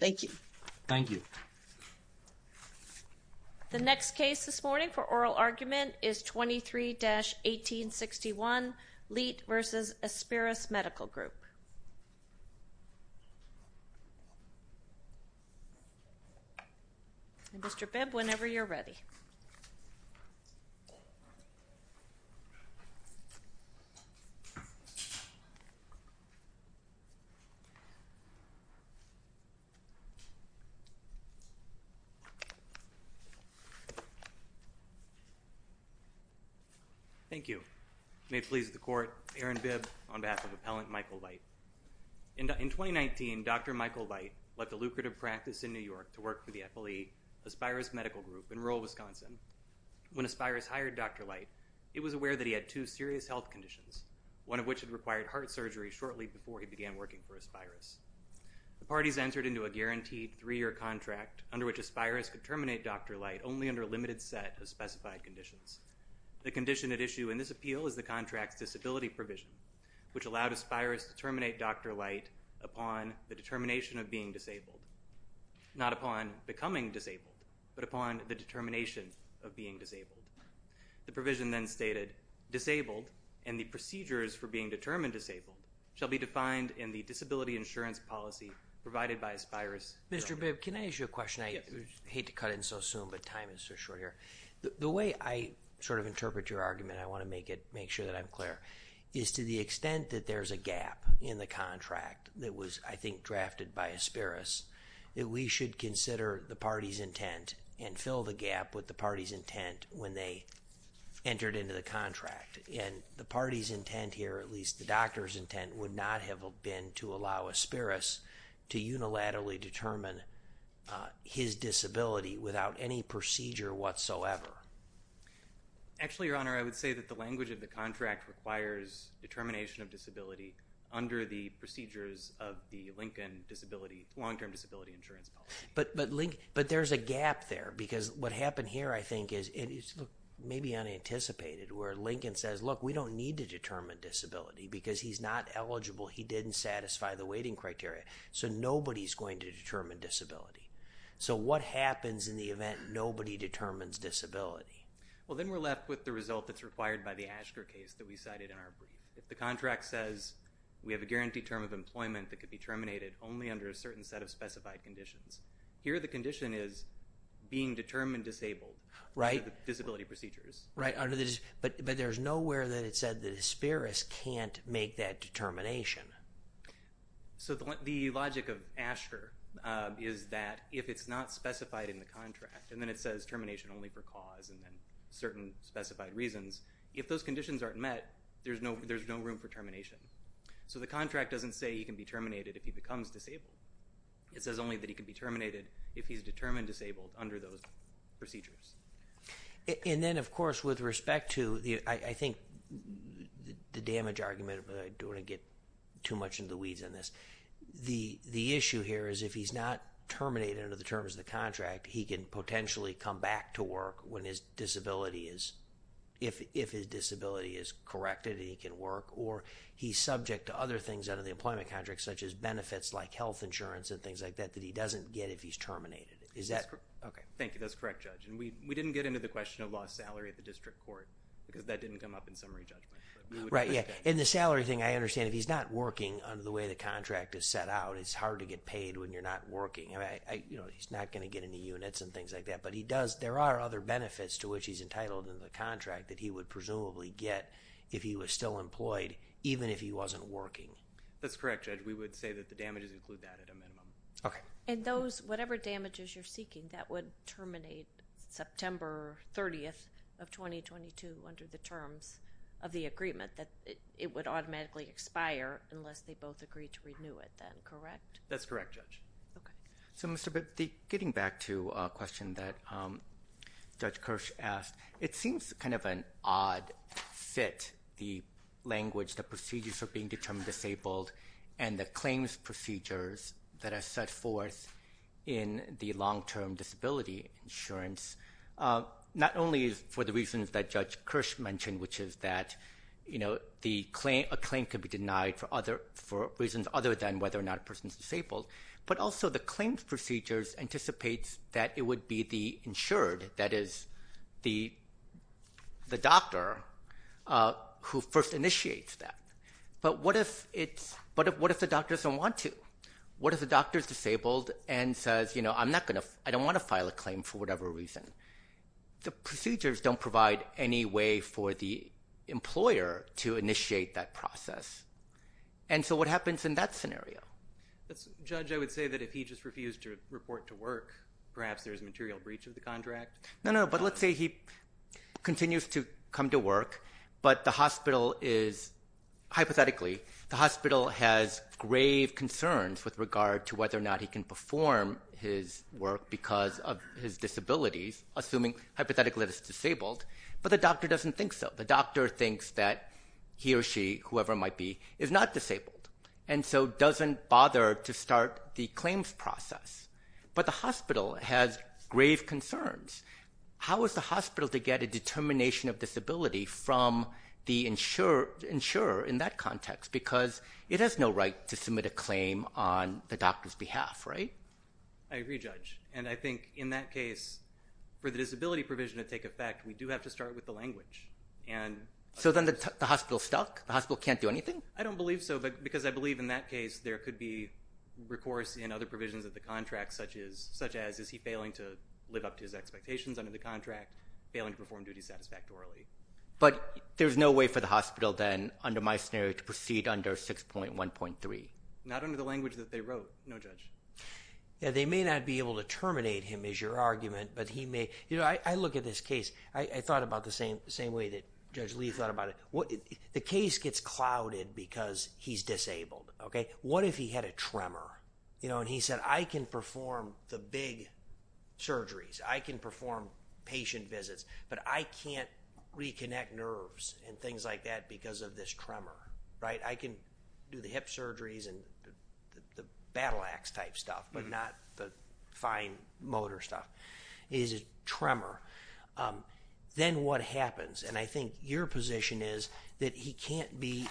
Thank you. The next case this morning for oral argument is 23-1861 Leit v. Aspirus Medical Group. Mr. Bibb, whenever you're ready. Thank you. May it please the Court, Aaron Bibb on behalf of Appellant Michael Leit. In 2019, Dr. Michael Leit left a lucrative practice in New York to work for the FLE Aspirus Medical Group in rural Wisconsin. When Aspirus hired Dr. Leit, he was aware that he had two serious health conditions, one of which had required heart surgery shortly before he began working for Aspirus. The parties entered into a guaranteed three-year contract under which Aspirus could terminate Dr. Leit only under a limited set of specified conditions. The condition at issue in this appeal is the contract's disability provision, which allowed Aspirus to terminate Dr. Leit upon the determination of being disabled, not upon becoming disabled, but upon the determination of being disabled. The provision then stated, disabled and the procedures for being determined disabled shall be defined in the disability insurance policy provided by Aspirus. Mr. Bibb, can I ask you a question? I hate to cut in so soon, but time is so short here. The way I sort of interpret your argument, I want to make sure that I'm clear, is to the extent that there's a gap in the contract that was, I think, drafted by Aspirus, that we should consider the party's intent and fill the gap with the party's intent when they entered into the contract. And the party's intent here, at least the doctor's intent, would not have been to allow Aspirus to unilaterally determine his disability without any procedure whatsoever. Actually, Your Honor, I would say that the language of the contract requires determination of disability under the procedures of the Lincoln disability, long-term disability insurance policy. But there's a gap there, because what happened here, I think, is maybe unanticipated, where the doctor says, look, we don't need to determine disability because he's not eligible, he didn't satisfy the weighting criteria, so nobody's going to determine disability. So, what happens in the event nobody determines disability? Well, then we're left with the result that's required by the Ashker case that we cited in our brief. If the contract says we have a guaranteed term of employment that could be terminated only under a certain set of specified conditions, here the condition is being determined disabled under the disability procedures. Right, but there's nowhere that it said that Aspirus can't make that determination. So, the logic of Ashker is that if it's not specified in the contract, and then it says termination only for cause and then certain specified reasons, if those conditions aren't met, there's no room for termination. So, the contract doesn't say he can be terminated if he becomes disabled. It says only that he can be terminated if he's determined disabled under those procedures. And then, of course, with respect to, I think, the damage argument, but I don't want to get too much into the weeds on this, the issue here is if he's not terminated under the terms of the contract, he can potentially come back to work when his disability is, if his disability is corrected, he can work, or he's subject to other things under the employment contract such as benefits like health insurance and things like that that he doesn't get if he's terminated. Is that correct? Okay. Thank you. That's correct, Judge. And we didn't get into the question of lost salary at the district court because that didn't come up in summary judgment. Right. Yeah. And the salary thing, I understand if he's not working under the way the contract is set out, it's hard to get paid when you're not working. He's not going to get any units and things like that, but he does, there are other benefits to which he's entitled in the contract that he would presumably get if he was still employed even if he wasn't working. That's correct, Judge. We would say that the damages include that at a minimum. Okay. And those, whatever damages you're seeking, that would terminate September 30th of 2022 under the terms of the agreement, that it would automatically expire unless they both agree to renew it then, correct? That's correct, Judge. Okay. So, Mr. Bibby, getting back to a question that Judge Kirsch asked, it seems kind of an odd fit, the language, the procedures for being determined disabled and the claims procedures that are set forth in the long-term disability insurance, not only for the reasons that Judge Kirsch mentioned, which is that a claim could be denied for reasons other than whether or not a person is disabled, but also the claims procedures anticipates that it would be the insured, that is, the doctor who first initiates that. But what if the doctor doesn't want to? What if the doctor is disabled and says, you know, I don't want to file a claim for whatever reason? The procedures don't provide any way for the employer to initiate that process. And so what happens in that scenario? Judge, I would say that if he just refused to report to work, perhaps there's material breach of the contract. No, no. But let's say he continues to come to work, but the hospital is, hypothetically, the hospital has grave concerns with regard to whether or not he can perform his work because of his disabilities, assuming, hypothetically, that it's disabled, but the doctor doesn't think so. The doctor thinks that he or she, whoever it might be, is not disabled, and so doesn't bother to start the claims process. But the hospital has grave concerns. How is the hospital to get a determination of disability from the insurer in that context? Because it has no right to submit a claim on the doctor's behalf, right? I agree, Judge. And I think, in that case, for the disability provision to take effect, we do have to start with the language. So then the hospital's stuck? The hospital can't do anything? I don't believe so, because I believe, in that case, there could be recourse in other contracts, such as, is he failing to live up to his expectations under the contract, failing to perform duties satisfactorily? But there's no way for the hospital, then, under my scenario, to proceed under 6.1.3? Not under the language that they wrote, no, Judge. Yeah, they may not be able to terminate him, is your argument, but he may... You know, I look at this case. I thought about the same way that Judge Lee thought about it. The case gets clouded because he's disabled, okay? What if he had a tremor? You know, and he said, I can perform the big surgeries. I can perform patient visits, but I can't reconnect nerves and things like that because of this tremor, right? I can do the hip surgeries and the battle-axe-type stuff, but not the fine motor stuff. He has a tremor. Then what happens? And I think your position is that he can't be...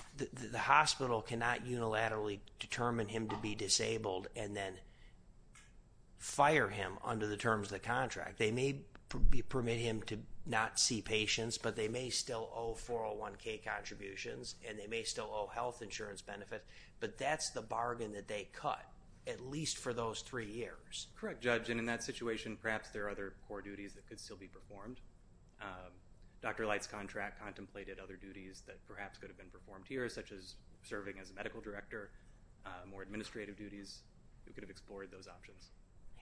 and then fire him under the terms of the contract. They may permit him to not see patients, but they may still owe 401K contributions, and they may still owe health insurance benefits. But that's the bargain that they cut, at least for those three years. Correct, Judge. And in that situation, perhaps there are other core duties that could still be performed. Dr. Light's contract contemplated other duties that perhaps could have been performed here, such as serving as a medical director, more administrative duties. We could have explored those options.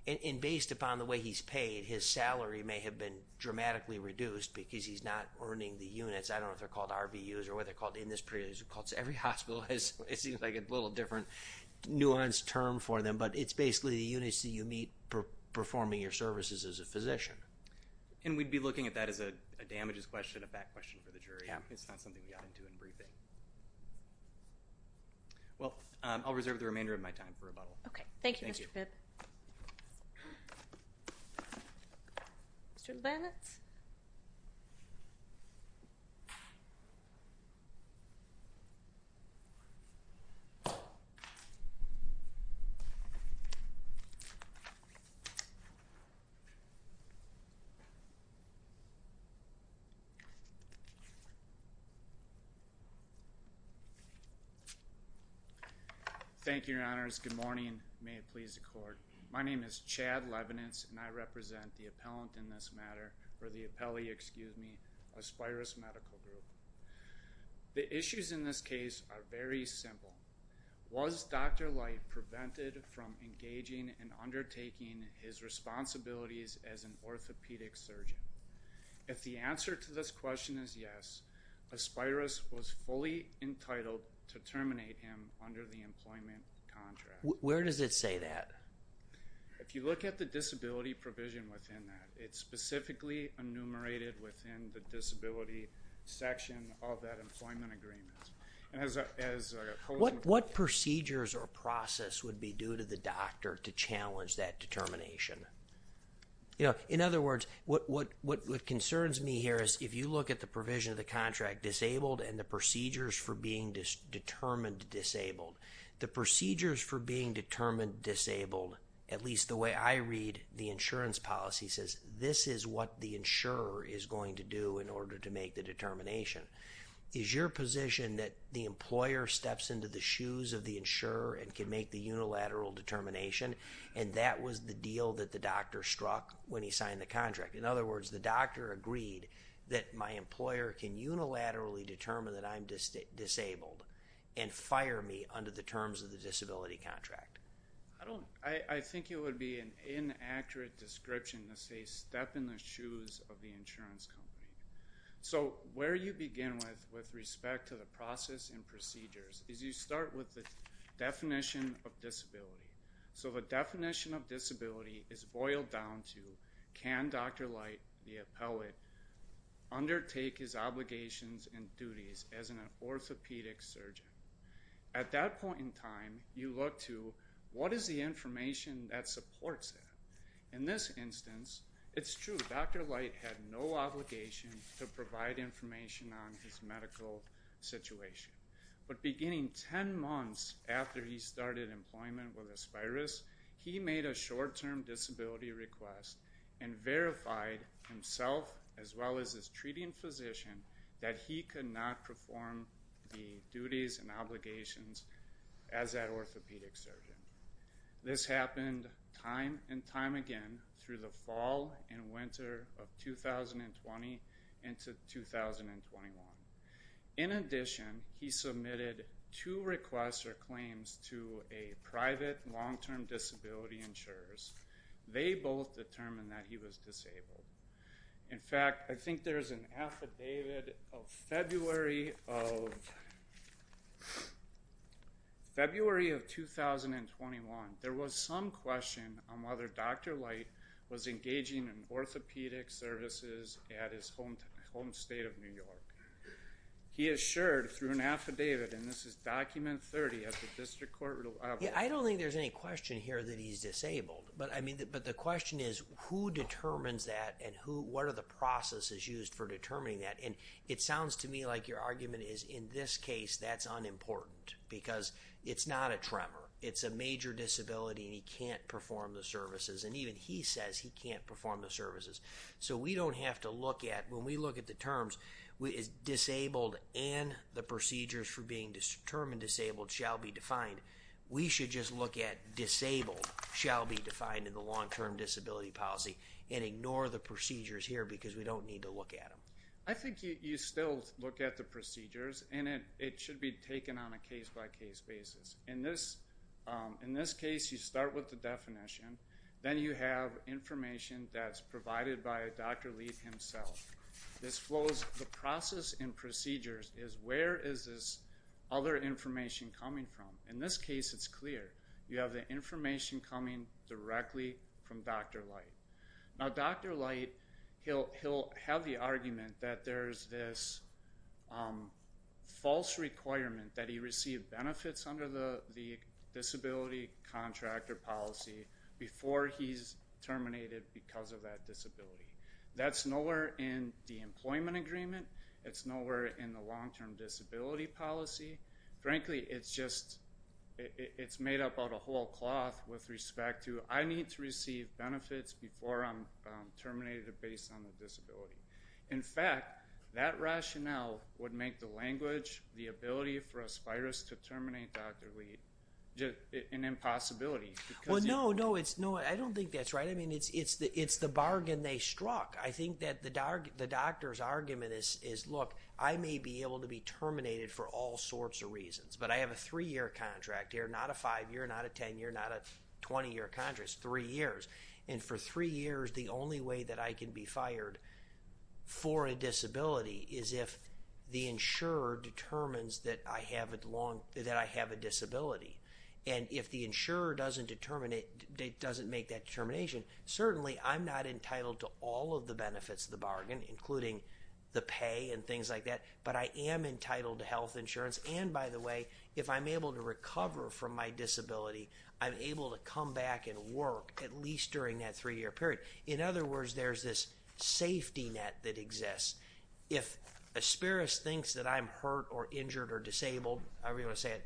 And based upon the way he's paid, his salary may have been dramatically reduced because he's not earning the units. I don't know if they're called RVUs or what they're called in this period. Every hospital has, it seems like, a little different nuanced term for them, but it's basically the units that you meet performing your services as a physician. And we'd be looking at that as a damages question, a back question for the jury. It's not something we got into in briefing. Well, I'll reserve the remainder of my time for rebuttal. Okay. Thank you. Mr. Leibniz? Thank you, Your Honors. Good morning. May it please the Court. My name is Chad Leibniz, and I represent the appellant in this matter, or the appellee, excuse me, Aspyrus Medical Group. The issues in this case are very simple. Was Dr. Light prevented from engaging and undertaking his responsibilities as an orthopedic surgeon? If the answer to this question is yes, Aspyrus was fully entitled to terminate him under the employment contract. Where does it say that? If you look at the disability provision within that, it's specifically enumerated within the disability section of that employment agreement. What procedures or process would be due to the doctor to challenge that determination? You know, in other words, what concerns me here is if you look at the provision of the contract, disabled and the procedures for being determined disabled, the procedures for being determined disabled, at least the way I read the insurance policy, says this is what the insurer is going to do in order to make the determination. Is your position that the employer steps into the shoes of the insurer and can make the unilateral determination, and that was the deal that the doctor struck when he signed the contract? In other words, the doctor agreed that my employer can unilaterally determine that I'm disabled and fire me under the terms of the disability contract. I think it would be an inaccurate description to say step in the shoes of the insurance company. So, where you begin with respect to the process and procedures is you start with the definition of disability. So, the definition of disability is boiled down to can Dr. Light, the appellate, undertake his obligations and duties as an orthopedic surgeon? At that point in time, you look to what is the information that supports that? In this instance, it's true. Dr. Light had no obligation to provide information on his medical situation. But beginning 10 months after he started employment with Aspiris, he made a short-term disability request and verified himself as well as his treating physician that he could not perform the duties and obligations as that orthopedic surgeon. This happened time and time again through the fall and winter of 2020 into 2021. In addition, he submitted two requests or claims to a private long-term disability insurers. They both determined that he was disabled. In fact, I think there's an affidavit of February of 2021. There was some question on whether Dr. Light was engaging in orthopedic services at his home state of New York. He assured through an affidavit and this is document 30 at the district court level. I don't think there's any question here that he's disabled, but the question is who determines that and what are the processes used for determining that? It sounds to me like your argument is in this case, that's unimportant because it's not a tremor. It's a major disability and he can't perform the services. Even he says he can't perform the services. We don't have to look at, when we look at the terms, disabled and the procedures for being determined disabled shall be defined. We should just look at disabled shall be defined in the long-term disability policy and ignore the procedures here because we don't need to look at them. I think you still look at the procedures and it should be taken on a case-by-case basis. In this case, you start with the definition. Then you have information that's provided by Dr. Lee himself. The process and procedures is where is this other information coming from? In this case, it's clear. You have the information coming directly from Dr. Light. Now, Dr. Light, he'll have the argument that there's this false requirement that he received benefits under the disability contractor policy before he's terminated because of that disability. That's nowhere in the employment agreement. It's nowhere in the long-term disability policy. Frankly, it's just, it's made up out of whole cloth with respect to I need to receive benefits before I'm terminated based on the disability. In fact, that rationale would make the language, the ability for us to terminate Dr. Lee an impossibility. Well, no, no. I don't think that's right. I mean, it's the bargain they struck. I think that the doctor's argument is, look, I may be able to be terminated for all sorts of reasons, but I have a three-year contract here, not a five-year, not a 10-year, not a 20-year contract. It's three years. For three years, the only way that I can be fired for a disability is if the insurer determines that I have a disability. And if the insurer doesn't make that determination, certainly I'm not entitled to all of the benefits of the bargain, including the pay and things like that, but I am entitled to health insurance. And by the way, if I'm able to recover from my disability, I'm able to come back and work at least during that three-year period. In other words, there's this safety net that exists. If Asperis thinks that I'm hurt or injured or disabled, however you want to say it,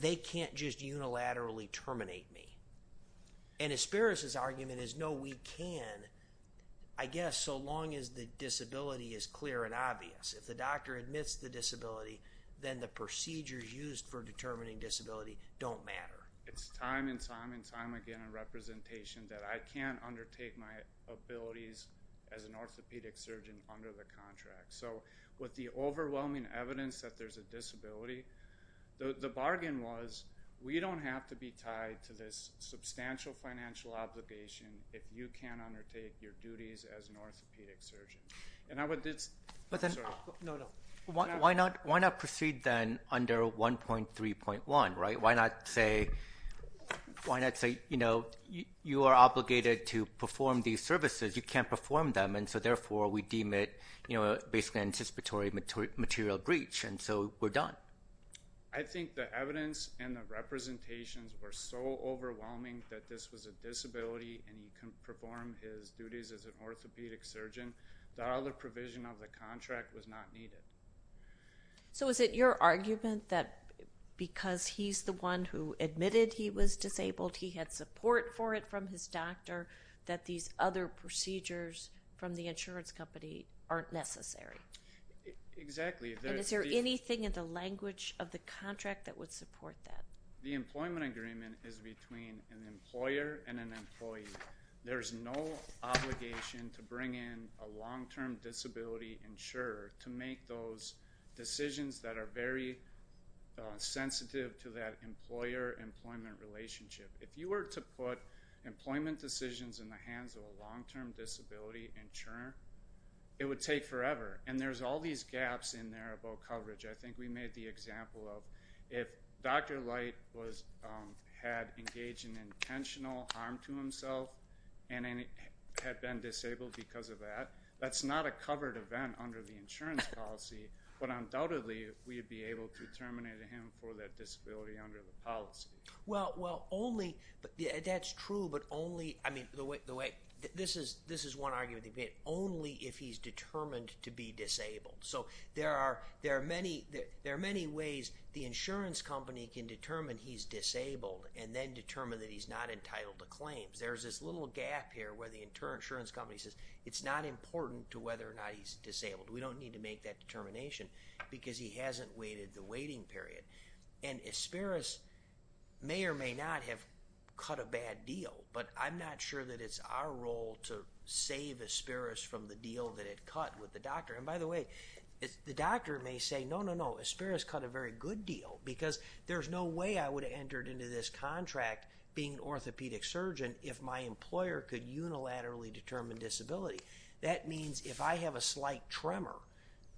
they can't just unilaterally terminate me. And Asperis's argument is, no, we can, I guess, so long as the disability is clear and obvious. If the doctor admits the disability, then the procedures used for determining disability don't matter. It's time and time and time again in representation that I can't undertake my abilities as an orthopedic surgeon under the contract. So with the overwhelming evidence that there's a disability, the bargain was, we don't have to be tied to this substantial financial obligation if you can't undertake your duties as an orthopedic surgeon. Why not proceed then under 1.3.1, right? Why not say, you know, you are obligated to perform these services. You can't perform them, and so therefore we deem it basically an anticipatory material breach, and so we're done. I think the evidence and the representations were so overwhelming that this was a disability and he couldn't perform his duties as an orthopedic surgeon. The other provision of the contract was not needed. So is it your argument that because he's the one who admitted he was disabled, he had support for it from his doctor, that these other procedures from the insurance company aren't necessary? Exactly. And is there anything in the language of the contract that would support that? The employment agreement is between an employer and an employee. There's no obligation to bring in a long-term disability insurer to make those decisions that are very sensitive to that employer-employment relationship. If you were to put employment decisions in the hands of a long-term disability insurer, it would take forever, and there's all these gaps in there about coverage. I think we made the example of if Dr. Light had engaged in intentional harm to himself and had been disabled because of that, that's not a covered event under the insurance policy, but undoubtedly we would be able to terminate him for that disability under the policy. Well, only – that's true, but only – I mean, the way – this is one argument. Only if he's determined to be disabled. So there are many ways the insurance company can determine he's disabled and then determine that he's not entitled to claims. There's this little gap here where the insurance company says it's not important to whether or not he's disabled. We don't need to make that determination because he hasn't waited the waiting period. And Aspiris may or may not have cut a bad deal, but I'm not sure that it's our role to save Aspiris from the deal that it cut with the doctor. And by the way, the doctor may say, no, no, no, Aspiris cut a very good deal because there's no way I would have entered into this contract being an orthopedic surgeon if my employer could unilaterally determine disability. That means if I have a slight tremor,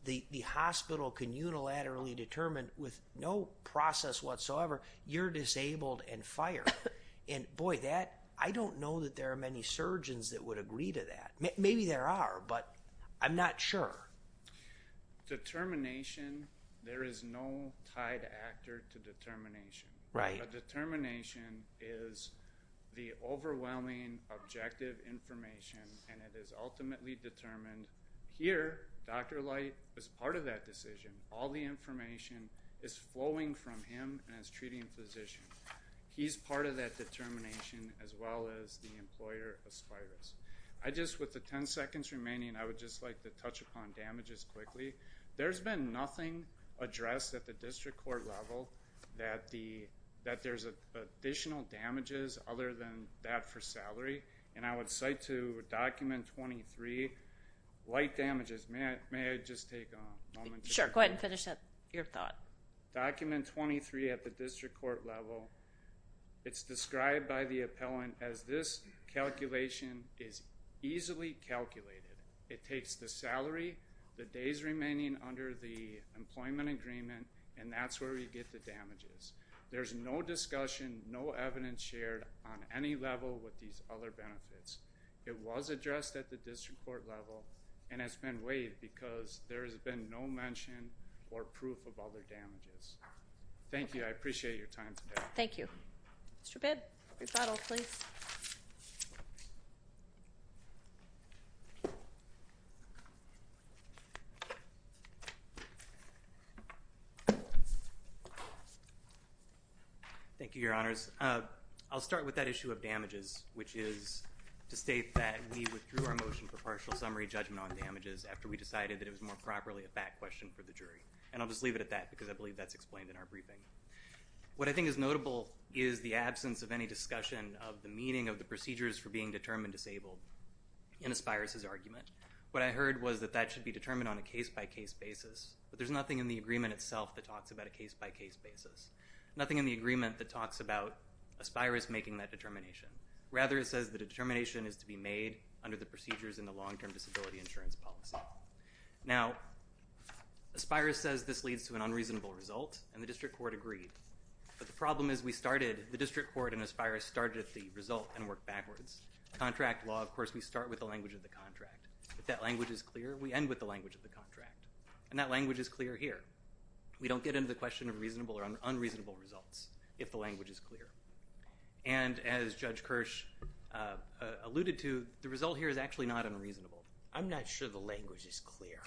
the hospital can unilaterally determine with no process whatsoever, you're disabled and fired. And boy, that – I don't know that there are many surgeons that would agree to that. Maybe there are, but I'm not sure. Determination, there is no tied actor to determination. A determination is the overwhelming objective information and it is ultimately determined. Here, Dr. Light is part of that decision. All the information is flowing from him as treating physician. He's part of that determination as well as the employer, Aspiris. I just, with the ten seconds remaining, I would just like to touch upon damages quickly. There's been nothing addressed at the district court level that there's additional damages other than that for salary. And I would cite to document 23, light damages. May I just take a moment? Sure, go ahead and finish up your thought. Document 23 at the district court level. It's described by the appellant as this calculation is easily calculated. It takes the salary, the days remaining under the employment agreement, and that's where we get the damages. There's no discussion, no evidence shared on any level with these other benefits. It was addressed at the district court level and has been waived because there has been no mention or proof of other damages. Thank you. I appreciate your time today. Thank you. Mr. Bidd, rebuttal, please. Thank you, Your Honors. I'll start with that issue of damages, which is to state that we withdrew our motion for partial summary judgment on damages after we decided that it was more properly a fact question for the jury. And I'll just leave it at that because I believe that's explained in our briefing. What I think is notable is the absence of any discussion of the meaning of the procedures for being determined disabled in Aspyrus's argument. What I heard was that that should be determined on a case-by-case basis, but there's nothing in the agreement itself that talks about a case-by-case basis, nothing in the agreement that talks about Aspyrus making that determination. Rather, it says the determination is to be made under the procedures in the long-term disability insurance policy. Now, Aspyrus says this leads to an unreasonable result, and the district court agreed. But the problem is we started, the district court and Aspyrus started at the result and worked backwards. Contract law, of course, we start with the language of the contract. If that language is clear, we end with the language of the contract. And that language is clear here. We don't get into the question of reasonable or unreasonable results if the language is clear. And as Judge Kirsch alluded to, the result here is actually not unreasonable. I'm not sure the language is clear.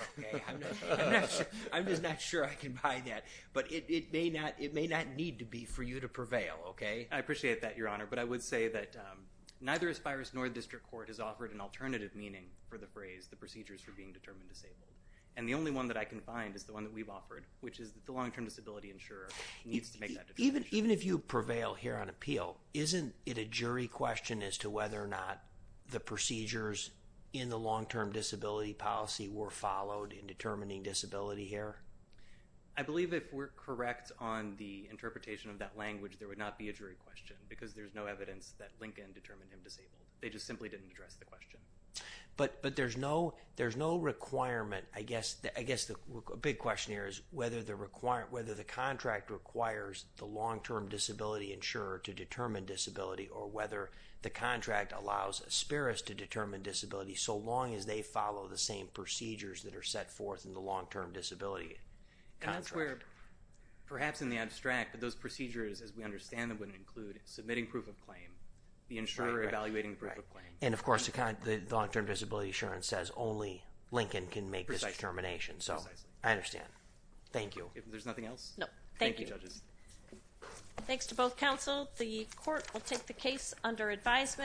I'm just not sure I can buy that. But it may not need to be for you to prevail, okay? I appreciate that, Your Honor, but I would say that neither Aspyrus nor the district court has offered an alternative meaning for the phrase the procedures for being determined disabled. And the only one that I can find is the one that we've offered, which is that the long-term disability insurer needs to make that determination. Even if you prevail here on appeal, isn't it a jury question as to whether or not the procedures in the long-term disability policy were followed in determining disability here? I believe if we're correct on the interpretation of that language, there would not be a jury question because there's no evidence that Lincoln determined him disabled. They just simply didn't address the question. But there's no requirement. I guess the big question here is whether the contract requires the long-term disability insurer to determine disability or whether the contract allows Aspyrus to determine disability so long as they follow the same procedures that are set forth in the long-term disability contract. Perhaps in the abstract, but those procedures, as we understand them, would include submitting proof of claim, the insurer evaluating proof of claim. And, of course, the long-term disability insurer says only Lincoln can make this determination. So I understand. Thank you. There's nothing else? No. Thank you. Thank you, judges. Thanks to both counsel. The court will take the case under advisement.